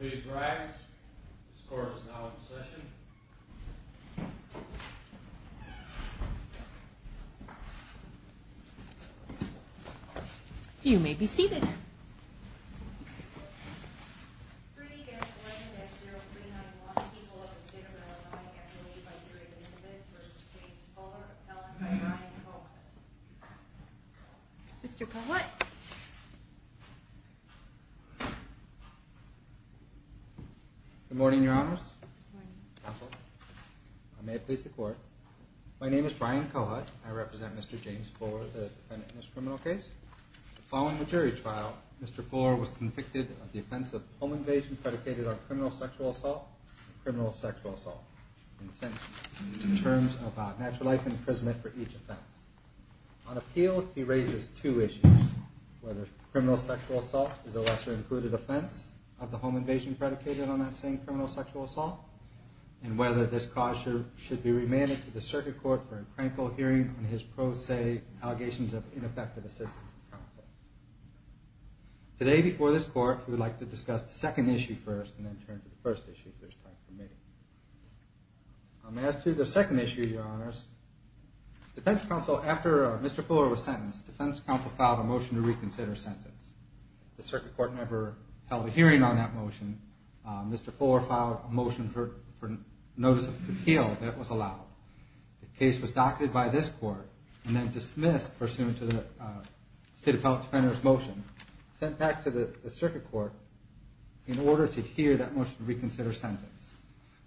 These rags, this court is now in session. You may be seated. Three against 11-0, 3-9-1. People of the State of Illinois get relieved by series of instruments, v. James Fuller, Helen by Brian Cohen. Mr. Kohut. Good morning, Your Honors. Good morning. Counsel, I may have to face the court. My name is Brian Kohut. I represent Mr. James Fuller, the defendant in this criminal case. Following the jury trial, Mr. Fuller was convicted of the offense of home invasion predicated on criminal sexual assault, in terms of a natural life imprisonment for each offense. On appeal, he raises two issues, whether criminal sexual assault is a lesser included offense of the home invasion predicated on that same criminal sexual assault, and whether this cause should be remanded to the circuit court for a critical hearing on his pro se allegations of ineffective assistance to counsel. Today, before this court, we would like to discuss the second issue first, and then turn to the first issue if there's time for me. As to the second issue, Your Honors, defense counsel, after Mr. Fuller was sentenced, defense counsel filed a motion to reconsider his sentence. The circuit court never held a hearing on that motion. Mr. Fuller filed a motion for notice of appeal that was allowed. The case was doctored by this court, and then dismissed pursuant to the state of health defender's motion, sent back to the circuit court in order to hear that motion to reconsider sentence.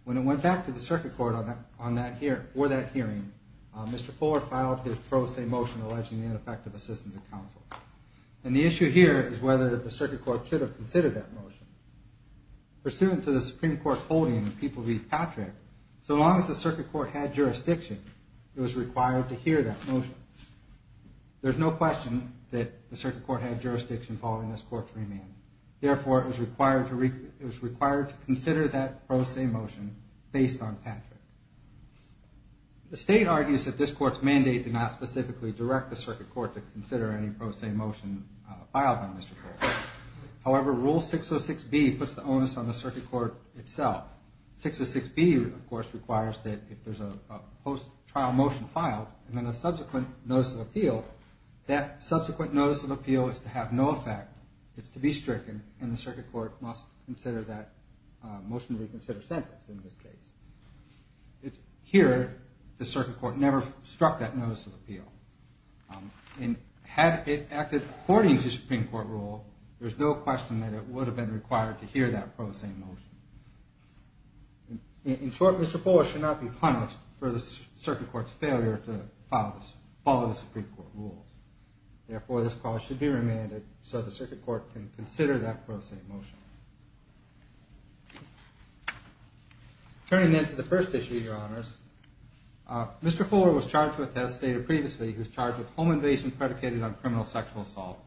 When it went back to the circuit court for that hearing, Mr. Fuller filed his pro se motion alleging ineffective assistance to counsel. And the issue here is whether the circuit court should have considered that motion. Pursuant to the Supreme Court's holding that people read Patrick, so long as the circuit court had jurisdiction, it was required to hear that motion. There's no question that the circuit court had jurisdiction following this court's remand. Therefore, it was required to consider that pro se motion based on Patrick. The state argues that this court's mandate did not specifically direct the circuit court to consider any pro se motion filed on Mr. Patrick. However, Rule 606B puts the onus on the circuit court itself. 606B, of course, requires that if there's a post-trial motion filed and then a subsequent notice of appeal, that subsequent notice of appeal is to have no effect. It's to be stricken, and the circuit court must consider that motion to reconsider sentence in this case. Here, the circuit court never struck that notice of appeal. And had it acted according to Supreme Court rule, there's no question that it would have been required to hear that pro se motion. In short, Mr. Fuller should not be punished for the circuit court's failure to follow the Supreme Court rule. Therefore, this clause should be remanded so the circuit court can consider that pro se motion. Turning then to the first issue, your honors. Mr. Fuller was charged with, as stated previously, he was charged with home invasion predicated on criminal sexual assault.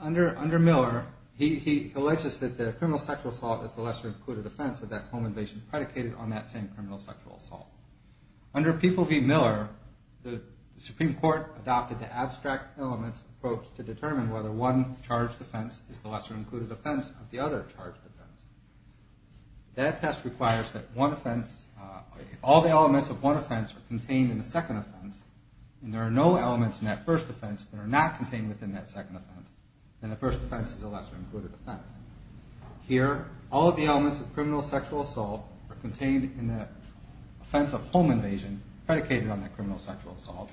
Under Miller, he alleges that the criminal sexual assault is the lesser included offense with that home invasion predicated on that same criminal sexual assault. Under People v. Miller, the Supreme Court adopted the abstract elements approach to determine whether one charged offense is the lesser included offense of the other charged offense. That test requires that one offense, if all the elements of one offense are contained in the second offense, and there are no elements in that first offense that are not contained within that second offense, then the first offense is a lesser included offense. Here, all of the elements of criminal sexual assault are contained in the offense of home invasion predicated on that criminal sexual assault,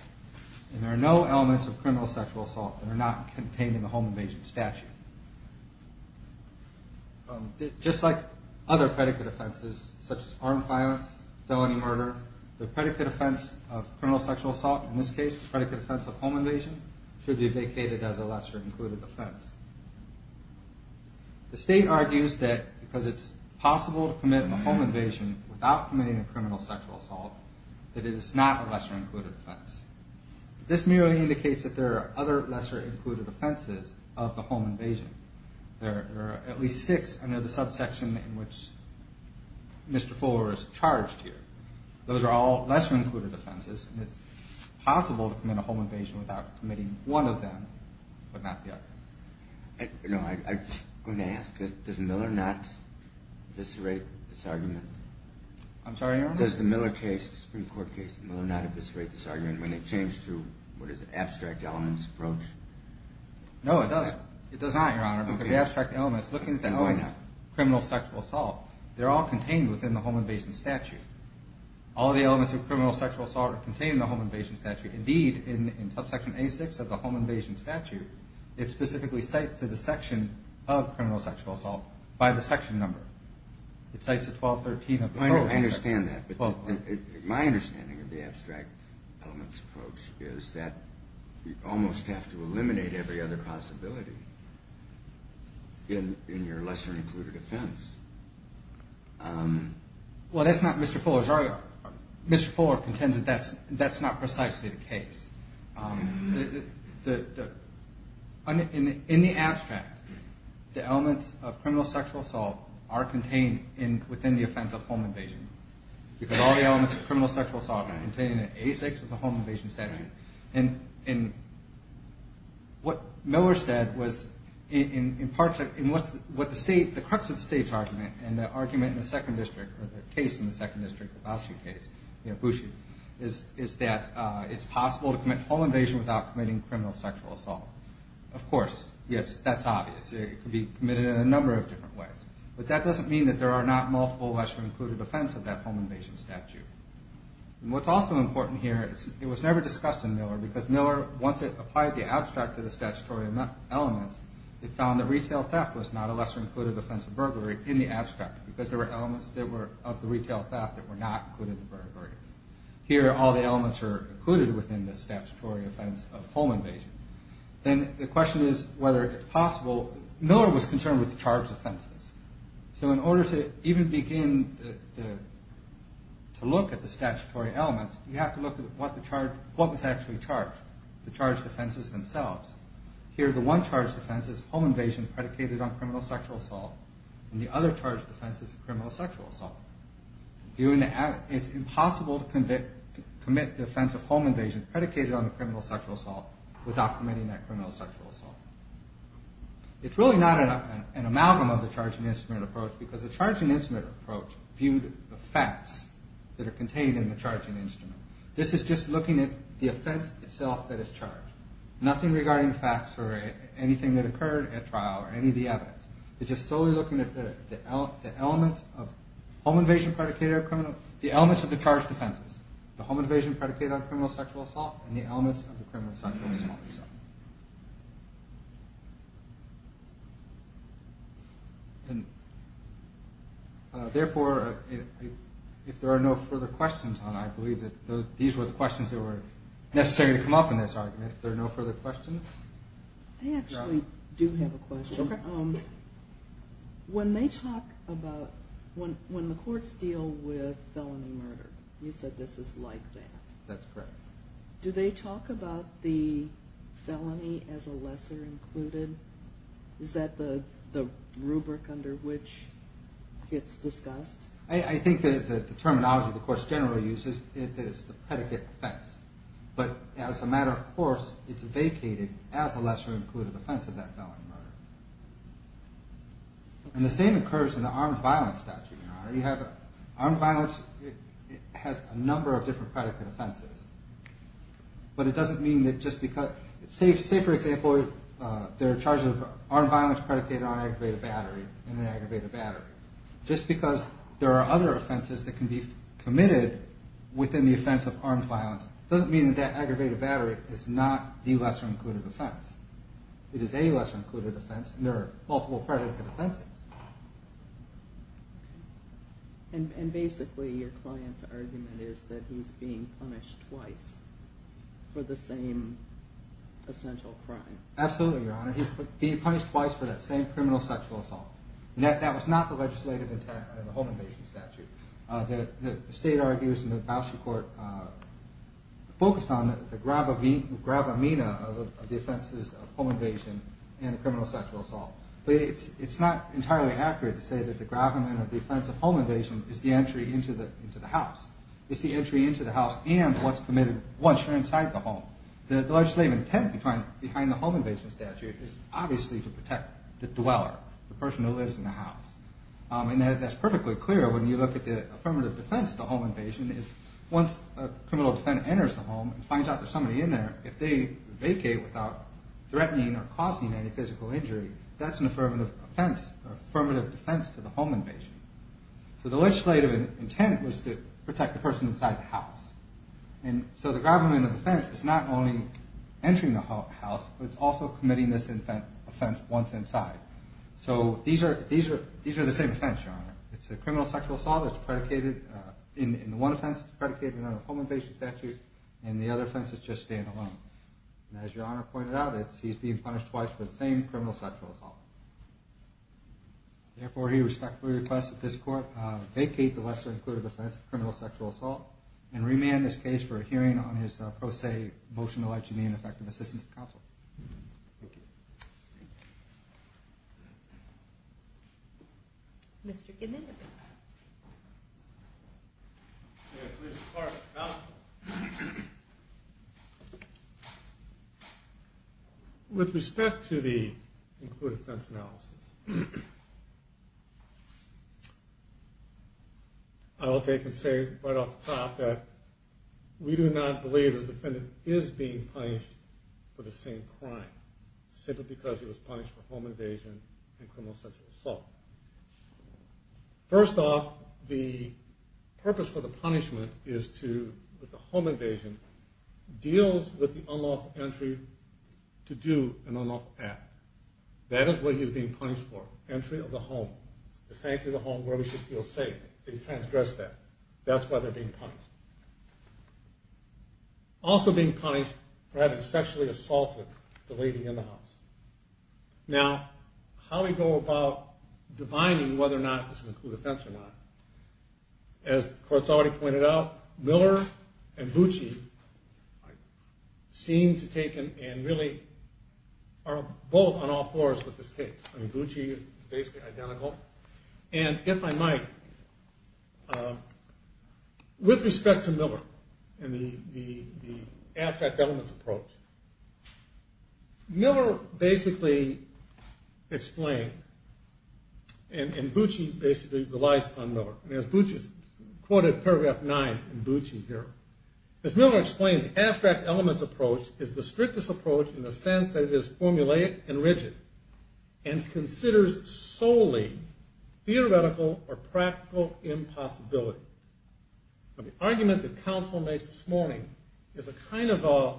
and there are no elements of criminal sexual assault that are not contained in the home invasion statute. Just like other predicate offenses, such as armed violence, felony murder, the predicate offense of criminal sexual assault, in this case the predicate offense of home invasion, should be vacated as a lesser included offense. The state argues that because it's possible to commit a home invasion without committing a criminal sexual assault, that it is not a lesser included offense. This merely indicates that there are other lesser included offenses of the home invasion. There are at least six under the subsection in which Mr. Fuller is charged here. Those are all lesser included offenses, and it's possible to commit a home invasion without committing one of them, but not the other. I'm going to ask, does Miller not eviscerate this argument? I'm sorry, Your Honor? Does the Miller case, the Supreme Court case, does Miller not eviscerate this argument when they change to what is an abstract elements approach? No, it does not, Your Honor, because the abstract elements, looking at the elements of criminal sexual assault, they're all contained within the home invasion statute. All of the elements of criminal sexual assault are contained in the home invasion statute. Indeed, in subsection A6 of the home invasion statute, it specifically cites to the section of criminal sexual assault by the section number. It cites the 1213 of the home invasion statute. I understand that, but my understanding of the abstract elements approach is that you almost have to eliminate every other possibility in your lesser included offense. Well, that's not Mr. Fuller's argument. Mr. Fuller contends that that's not precisely the case. In the abstract, the elements of criminal sexual assault are contained within the offense of home invasion, because all the elements of criminal sexual assault are contained in A6 of the home invasion statute. And what Miller said was, in part, in what the state, the crux of the state's argument, is that the home invasion statute is not an abstract element. And the argument in the second district, or the case in the second district, the Boushey case, you know, Boushey, is that it's possible to commit home invasion without committing criminal sexual assault. Of course, yes, that's obvious. It could be committed in a number of different ways. But that doesn't mean that there are not multiple lesser included offense of that home invasion statute. And what's also important here, it was never discussed in Miller, because Miller, once it applied the abstract to the statutory elements, it found that retail theft was not a lesser included offense of burglary in the abstract. Because there were elements of the retail theft that were not included in the burglary. Here, all the elements are included within the statutory offense of home invasion. Then the question is whether it's possible, Miller was concerned with the charged offenses. So in order to even begin to look at the statutory elements, you have to look at what was actually charged, the charged offenses themselves. Here, the one charged offense is home invasion predicated on criminal sexual assault. And the other charged offense is criminal sexual assault. It's impossible to commit the offense of home invasion predicated on the criminal sexual assault without committing that criminal sexual assault. It's really not an amalgam of the charging instrument approach, because the charging instrument approach viewed the facts that are contained in the charging instrument. This is just looking at the offense itself that is charged, nothing regarding facts or anything that occurred at trial or any of the evidence. It's just solely looking at the elements of home invasion predicated on criminal, the elements of the charged offenses. The home invasion predicated on criminal sexual assault and the elements of the criminal sexual assault itself. Therefore, if there are no further questions, I believe that these were the questions that were necessary to come up in this argument. They actually do have a question. When the courts deal with felony murder, you said this is like that. That's correct. Do they talk about the felony as a lesser included? Is that the rubric under which it's discussed? I think the terminology the courts generally use is the predicate offense. But as a matter of course, it's vacated as a lesser included offense of that felony murder. And the same occurs in the armed violence statute. Armed violence has a number of different predicate offenses. Say for example, they're charged with armed violence predicated on an aggravated battery. Just because there are other offenses that can be committed within the offense of armed violence doesn't mean that aggravated battery is not the lesser included offense. It is a lesser included offense and there are multiple predicate offenses. And basically your client's argument is that he's being punished twice for the same essential crime. Absolutely, Your Honor. He's being punished twice for that same criminal sexual assault. That was not the legislative intent of the home invasion statute. The state argues in the Bausch court focused on the gravamina of the offenses of home invasion and the criminal sexual assault. But it's not entirely accurate to say that the gravamina of the offense of home invasion is the entry into the house. It's the entry into the house and what's committed once you're inside the home. The legislative intent behind the home invasion statute is obviously to protect the dweller, the person who lives in the house. And that's perfectly clear when you look at the affirmative defense of the home invasion. Once a criminal defendant enters the home and finds out there's somebody in there, if they vacate without threatening or causing any physical injury, that's an affirmative defense to the home invasion. So the legislative intent was to protect the person inside the house. And so the gravamina of the offense is not only entering the house, but it's also committing this offense once inside. So these are the same offense, Your Honor. It's a criminal sexual assault that's predicated in the one offense, it's predicated on the home invasion statute, and the other offense is just standalone. And as Your Honor pointed out, he's being punished twice for the same criminal sexual assault. Therefore, he respectfully requests that this Court vacate the lesser-included offense of criminal sexual assault and remand this case for a hearing on his pro se motion alleging the ineffective assistance of counsel. Thank you. Mr. Knitted. With respect to the included offense analysis, I will take and say right off the top that we do not believe the defendant is being punished for the same crime, simply because he was punished for home invasion and criminal sexual assault. First off, the purpose for the punishment is to, with the home invasion, deals with the unlawful entry to do an unlawful act. That is what he is being punished for, entry of the home, the sanctity of the home where we should feel safe. They transgressed that. That's why they're being punished. Also being punished for having sexually assaulted the lady in the house. Now, how do we go about defining whether or not this is an included offense or not? As the Court's already pointed out, Miller and Bucci seem to take and really are both on all fours with this case. I mean, Bucci is basically identical. And if I might, with respect to Miller and the abstract elements approach, Miller basically explained, and Bucci basically relies on Miller, and as Bucci's quoted paragraph nine in Bucci here, as Miller explained, the abstract elements approach is the strictest approach in the sense that it is formulaic and rigid, and considers solely theoretical or practical impossibility. The argument that counsel makes this morning is a kind of a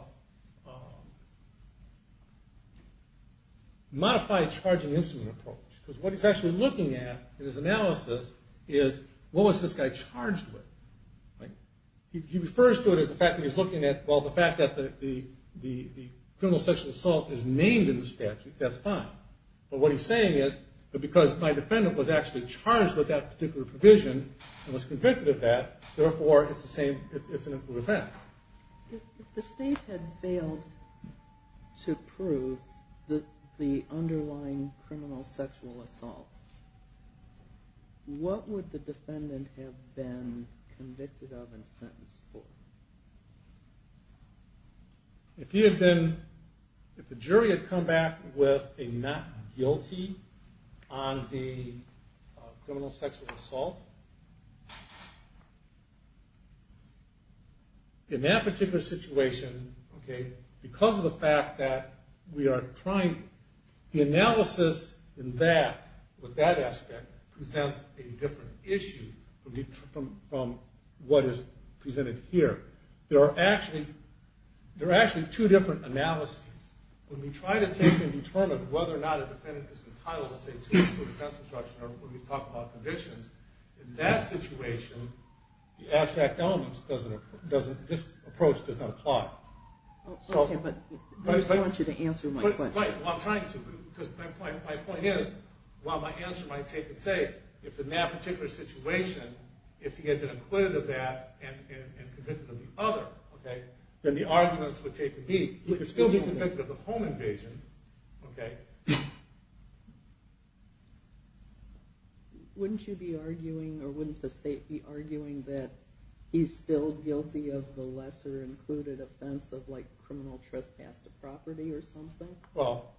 modified charging instrument approach, because what he's actually looking at in his analysis is, what was this guy charged with? He refers to it as the fact that he's looking at, well, the fact that the criminal sexual assault is named in the statute, that's fine. But what he's saying is, because my defendant was actually charged with that particular provision, and was convicted of that, therefore it's an included offense. If the state had failed to prove the underlying criminal sexual assault, what would the defendant have been convicted of and sentenced for? If the jury had come back with a not guilty on the criminal sexual assault, in that particular situation, because of the fact that we are trying, the analysis in that, with that aspect, presents a different issue from what is presented here. There are actually two different analyses. When we try to take and determine whether or not a defendant is entitled to a defense instruction, or when we talk about convictions, in that situation, the abstract elements, this approach does not apply. I just want you to answer my question. My point is, while my answer might take it's sake, if in that particular situation, if he had been acquitted of that and convicted of the other, then the arguments would take the beat. Wouldn't you be arguing, or wouldn't the state be arguing, that he's still guilty of the lesser included offense of criminal trespass to property or something? Well,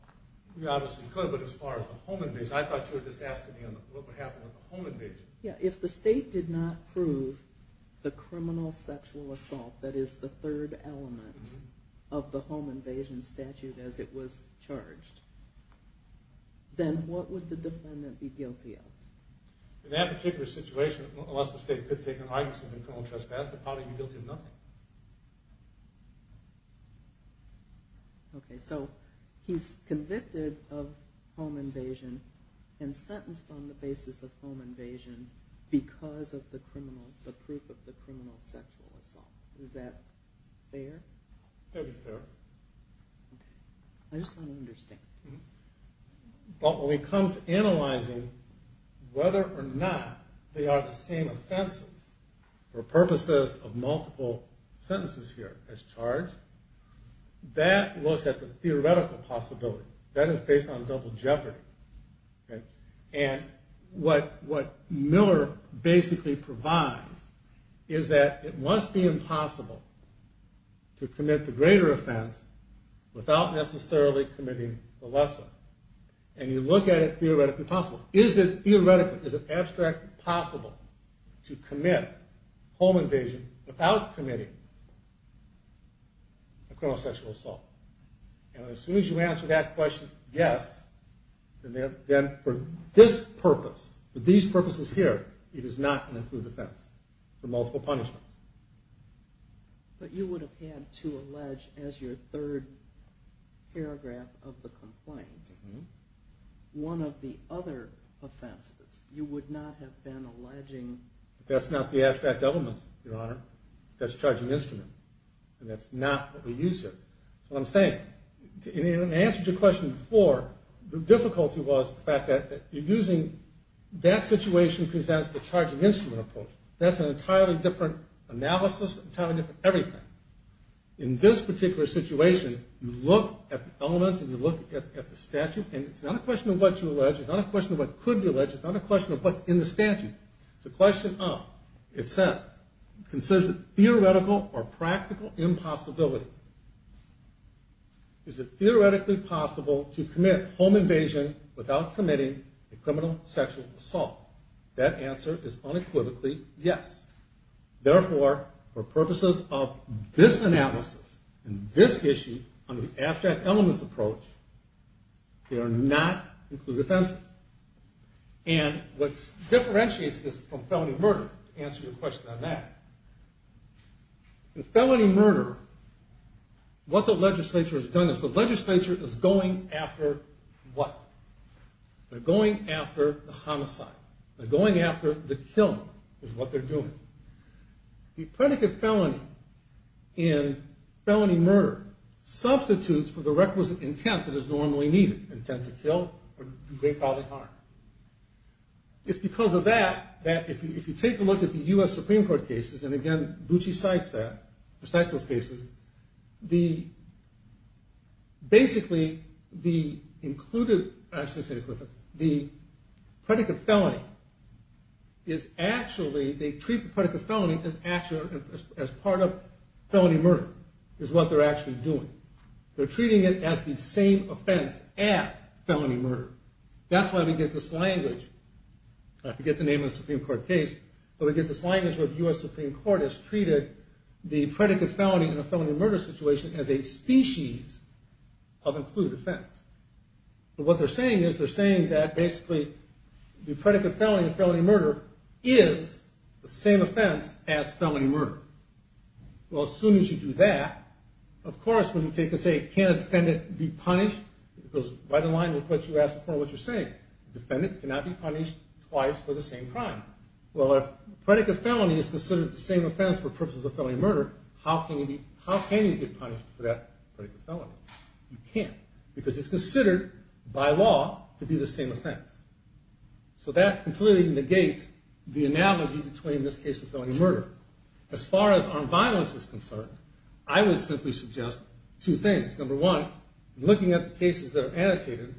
we obviously could, but as far as the home invasion, I thought you were just asking me what would happen with the home invasion. If the state did not prove the criminal sexual assault that is the third element of the home invasion statute as it was charged, then what would the defendant be guilty of? In that particular situation, unless the state could take an argument of criminal trespass to property, he'd be guilty of nothing. Okay, so he's convicted of home invasion and sentenced on the basis of home invasion because of the criminal, the proof of the criminal sexual assault. Is that fair? That would be fair. But when it comes to analyzing whether or not they are the same offenses for purposes of multiple sentences here as charged, that looks at the theoretical possibility. That is based on double jeopardy. And what Miller basically provides is that it must be impossible to commit the greater offense without necessarily committing the lesser. And you look at it theoretically possible. Is it theoretically, is it abstractly possible to commit home invasion without committing a criminal sexual assault? And as soon as you answer that question, yes, then for this purpose, for these purposes here, it is not an approved offense for multiple punishments. But you would have had to allege as your third paragraph of the complaint, one of the other offenses, you would not have been alleging. That's not the abstract element, Your Honor. That's the charging instrument. And that's not what we use here. That's what I'm saying. And in answer to your question before, the difficulty was the fact that you're using, that situation presents the charging instrument approach. That's an entirely different analysis, entirely different everything. In this particular situation, you look at the elements and you look at the statute, and it's not a question of what you allege. It's not a question of what could be alleged. It's not a question of what's in the statute. It's a question of, it says, theoretical or practical impossibility. Is it theoretically possible to commit home invasion without committing a criminal sexual assault? That answer is unequivocally yes. Therefore, for purposes of this analysis and this issue, on the abstract elements approach, they are not included offenses. And what differentiates this from felony murder, to answer your question on that, in felony murder, what the legislature has done is the legislature is going after what? They're going after the homicide. They're going after the killing, is what they're doing. The predicate felony in felony murder substitutes for the requisite intent that is normally needed, intent to kill or do great bodily harm. It's because of that that if you take a look at the U.S. Supreme Court cases, and again, Bucci cites that, Bucci cites those cases, the, basically, the included, I shouldn't say included, the predicate felony is actually, they treat the predicate felony as part of felony murder, is what they're actually doing. They're treating it as the same offense as felony murder. That's why we get this language, I forget the name of the Supreme Court case, but we get this language where the U.S. Supreme Court has treated the predicate felony in a felony murder situation as a species of included offense. But what they're saying is, they're saying that, basically, the predicate felony in felony murder is the same offense as felony murder. Well, as soon as you do that, of course, when you take and say, can a defendant be punished, it goes right in line with what you asked before, what you're saying. A defendant cannot be punished twice for the same crime. Well, if a predicate felony is considered the same offense for purposes of felony murder, how can you be, how can you get punished for that predicate felony? You can't, because it's considered by law to be the same offense. So that completely negates the analogy between this case and felony murder. As far as armed violence is concerned, I would simply suggest two things. Number one, looking at the cases that are annotated,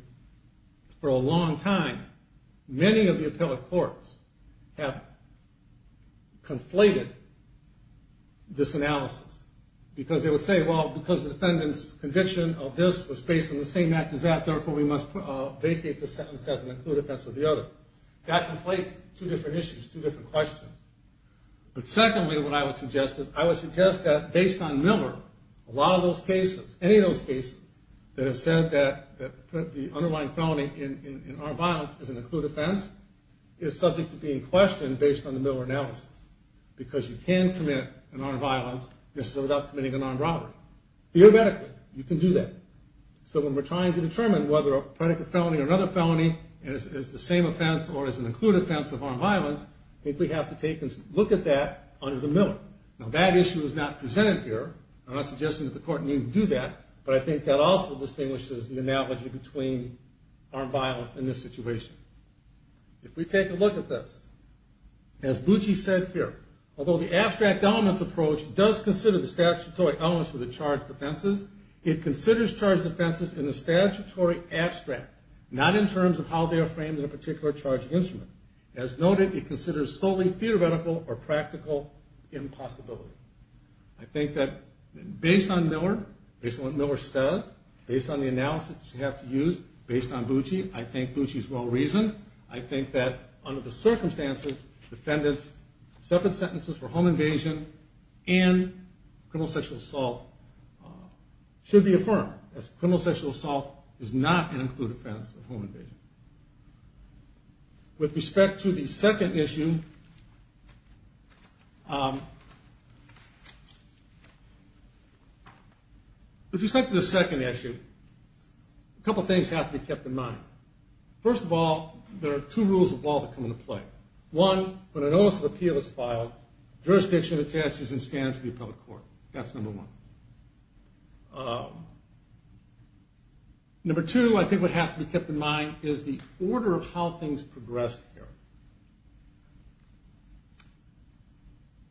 for a long time, many of the appellate courts have conflated this analysis. Because they would say, well, because the defendant's conviction of this was based on the same act as that, therefore, we must vacate this sentence as an included offense of the other. That conflates two different issues, two different questions. But secondly, what I would suggest is, I would suggest that based on Miller, a lot of those cases, any of those cases that have said that the underlying felony in armed violence is an included offense is subject to being questioned based on the Miller analysis. Because you can commit an armed violence without committing an armed robbery. Theoretically, you can do that. So when we're trying to determine whether a predicate felony or another felony is the same offense or is an included offense of armed violence, I think we have to take a look at that under the Miller. Now, that issue is not presented here. I'm not suggesting that the court need to do that. But I think that also distinguishes the analogy between armed violence and this situation. If we take a look at this, as Bucci said here, although the abstract elements approach does consider the statutory elements of the charged offenses, it considers charged offenses in the statutory abstract, not in terms of how they are framed in a particular charged instrument. As noted, it considers solely theoretical or practical impossibility. I think that based on Miller, based on what Miller says, based on the analysis you have to use, based on Bucci, I think Bucci is well-reasoned. I think that under the circumstances, defendants' separate sentences for home invasion and criminal sexual assault should be affirmed. Criminal sexual assault is not an included offense of home invasion. With respect to the second issue, a couple things have to be kept in mind. First of all, there are two rules of law that come into play. One, when a notice of appeal is filed, jurisdiction attaches and stands to the appellate court. That's number one. Number two, I think what has to be kept in mind is the order of how things progress here.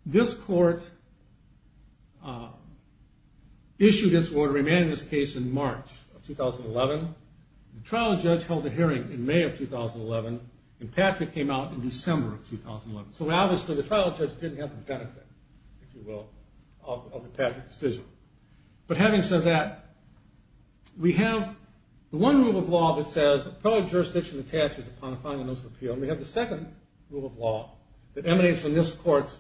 This court issued its order, remanded its case in March of 2011. The trial judge held a hearing in May of 2011, and Patrick came out in December of 2011. So obviously the trial judge didn't have the benefit, if you will, of the Patrick decision. But having said that, we have the one rule of law that says the appellate jurisdiction attaches upon a final notice of appeal, and we have the second rule of law that emanates from this court's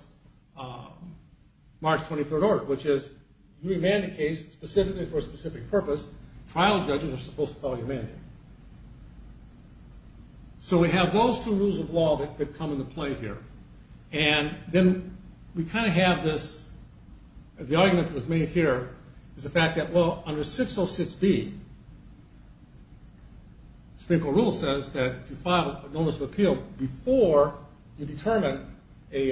March 23rd order, which is you remand a case specifically for a specific purpose, trial judges are supposed to follow your mandate. So we have those two rules of law that come into play here. And then we kind of have this, the argument that was made here is the fact that, well, under 606B, the Supreme Court rule says that if you file a notice of appeal before you determine a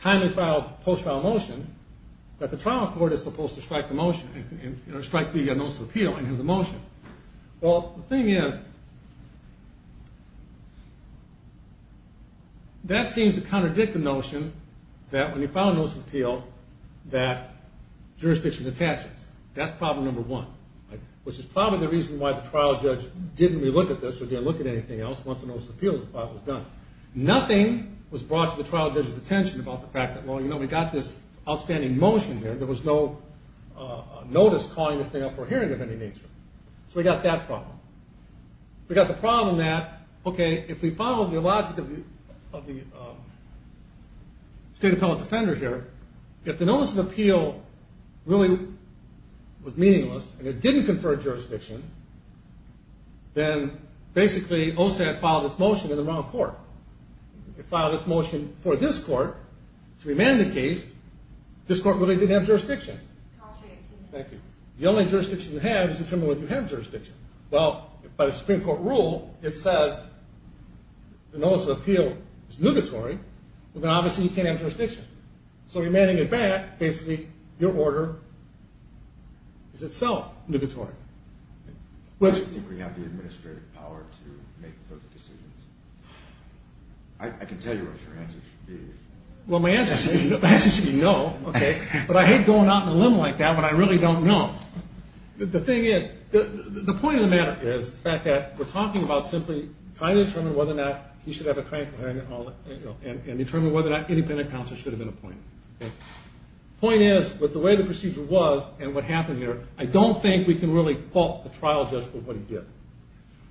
timely post-file motion, that the trial court is supposed to strike the motion, strike the notice of appeal and hear the motion. Well, the thing is, that seems to contradict the notion that when you file a notice of appeal, that jurisdiction attaches. That's problem number one, which is probably the reason why the trial judge didn't look at this or didn't look at anything else once the notice of appeal was done. Nothing was brought to the trial judge's attention about the fact that, well, you know, we got this outstanding motion here. There was no notice calling this thing up for hearing of any nature. So we got that problem. We got the problem that, okay, if we follow the logic of the state appellate defender here, if the notice of appeal really was meaningless and it didn't confer a jurisdiction, then basically OSAD filed its motion in the wrong court. It filed its motion for this court to remand the case. This court really didn't have jurisdiction. The only jurisdiction you have is to determine whether you have jurisdiction. Well, by the Supreme Court rule, it says the notice of appeal is nugatory, but then obviously you can't have jurisdiction. So remanding it back, basically, your order is itself nugatory. I can tell you what your answer should be. Well, my answer should be no, but I hate going out on a limb like that when I really don't know. The thing is, the point of the matter is the fact that we're talking about simply trying to determine whether or not he should have a jurisdiction. I don't think we can really fault the trial judge for what he did.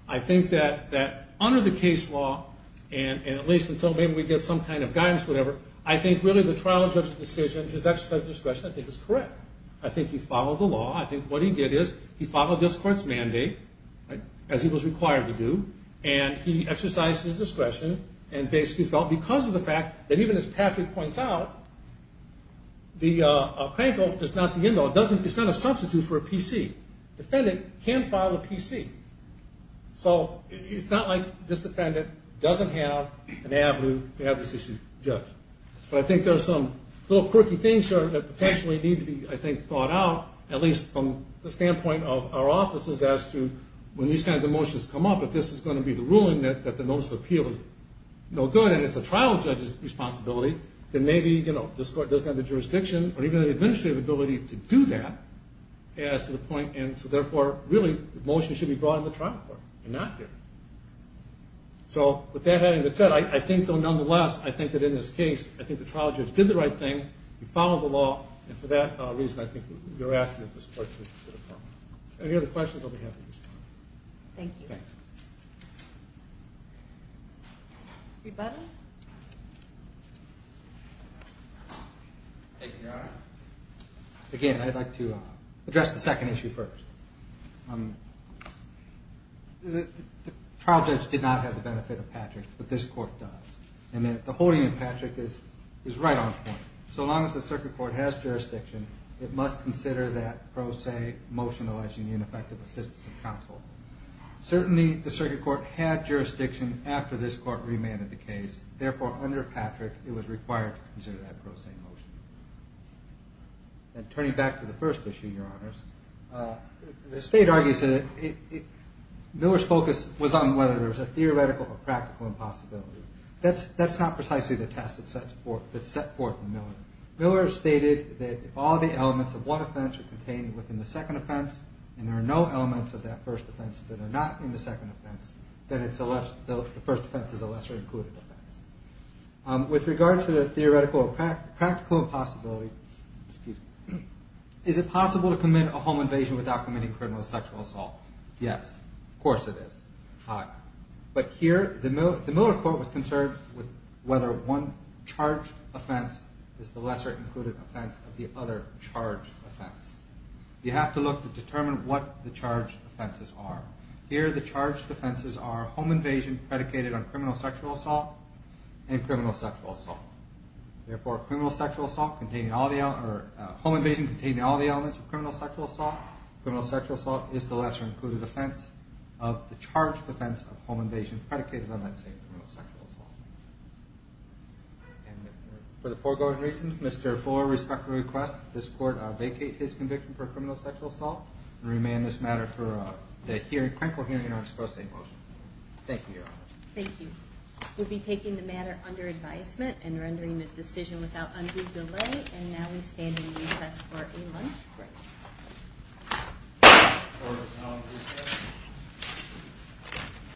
I think that under the case law, and at least until maybe we get some kind of guidance or whatever, I think really the trial judge's decision, his exercise of discretion, I think is correct. I think he followed the law. I think what he did is he followed this court's mandate, as he was required to do, and he exercised his discretion and basically felt, because of the fact that even as Patrick points out, the plaintiff is not the end all. It's not a substitute for a PC. Defendant can file a PC. So it's not like this defendant doesn't have an avenue to have this issue judged. But I think there are some little quirky things that potentially need to be, I think, thought out, at least from the standpoint of our offices, as to when these kinds of motions come up, if this is going to be the ruling that the notice of appeal is no good, and it's a trial judge's responsibility, then maybe this court doesn't have the jurisdiction or even the administrative ability to do that, as to the point. And so therefore, really, the motion should be brought in the trial court. You're not here. So with that having been said, I think, though, nonetheless, I think that in this case, I think the trial judge did the right thing. He followed the law. And for that reason, I think you're asking if this court should consider filing. Any other questions, I'll be happy to respond. Thank you. Rebuttal? Thank you, Your Honor. Again, I'd like to address the second issue first. The trial judge did not have the benefit of Patrick, but this court does. And the holding of Patrick is right on point. So long as the circuit court has jurisdiction, it must consider that pro se motionalizing the ineffective assistance of counsel. Certainly, the circuit court had jurisdiction after this court remanded the case. Therefore, under Patrick, it was required to consider that pro se motion. And turning back to the first issue, Your Honors, the state argues that there's a theoretical or practical impossibility. That's not precisely the test that's set forth in Miller. Miller stated that if all the elements of one offense are contained within the second offense, and there are no elements of that first offense that are not in the second offense, then the first offense is a lesser included offense. With regard to the theoretical or practical impossibility, is it possible to determine whether a charge offense is the lesser included offense of the other charge offense? You have to look to determine what the charge offenses are. Here, the charge offenses are home invasion predicated on criminal sexual assault and criminal sexual assault. Therefore, home invasion containing all the elements of criminal sexual assault, criminal sexual assault is the lesser included offense of the charge offense of home invasion predicated on that same criminal sexual assault. For the foregoing reasons, Mr. Fuller respectfully requests that this court vacate his conviction for criminal sexual assault and remand this matter for the clinical hearing on pro se motion. Thank you, Your Honors. Thank you. We'll be taking the matter under advisement and rendering a decision without undue delay. And now we stand in recess for a lunch break.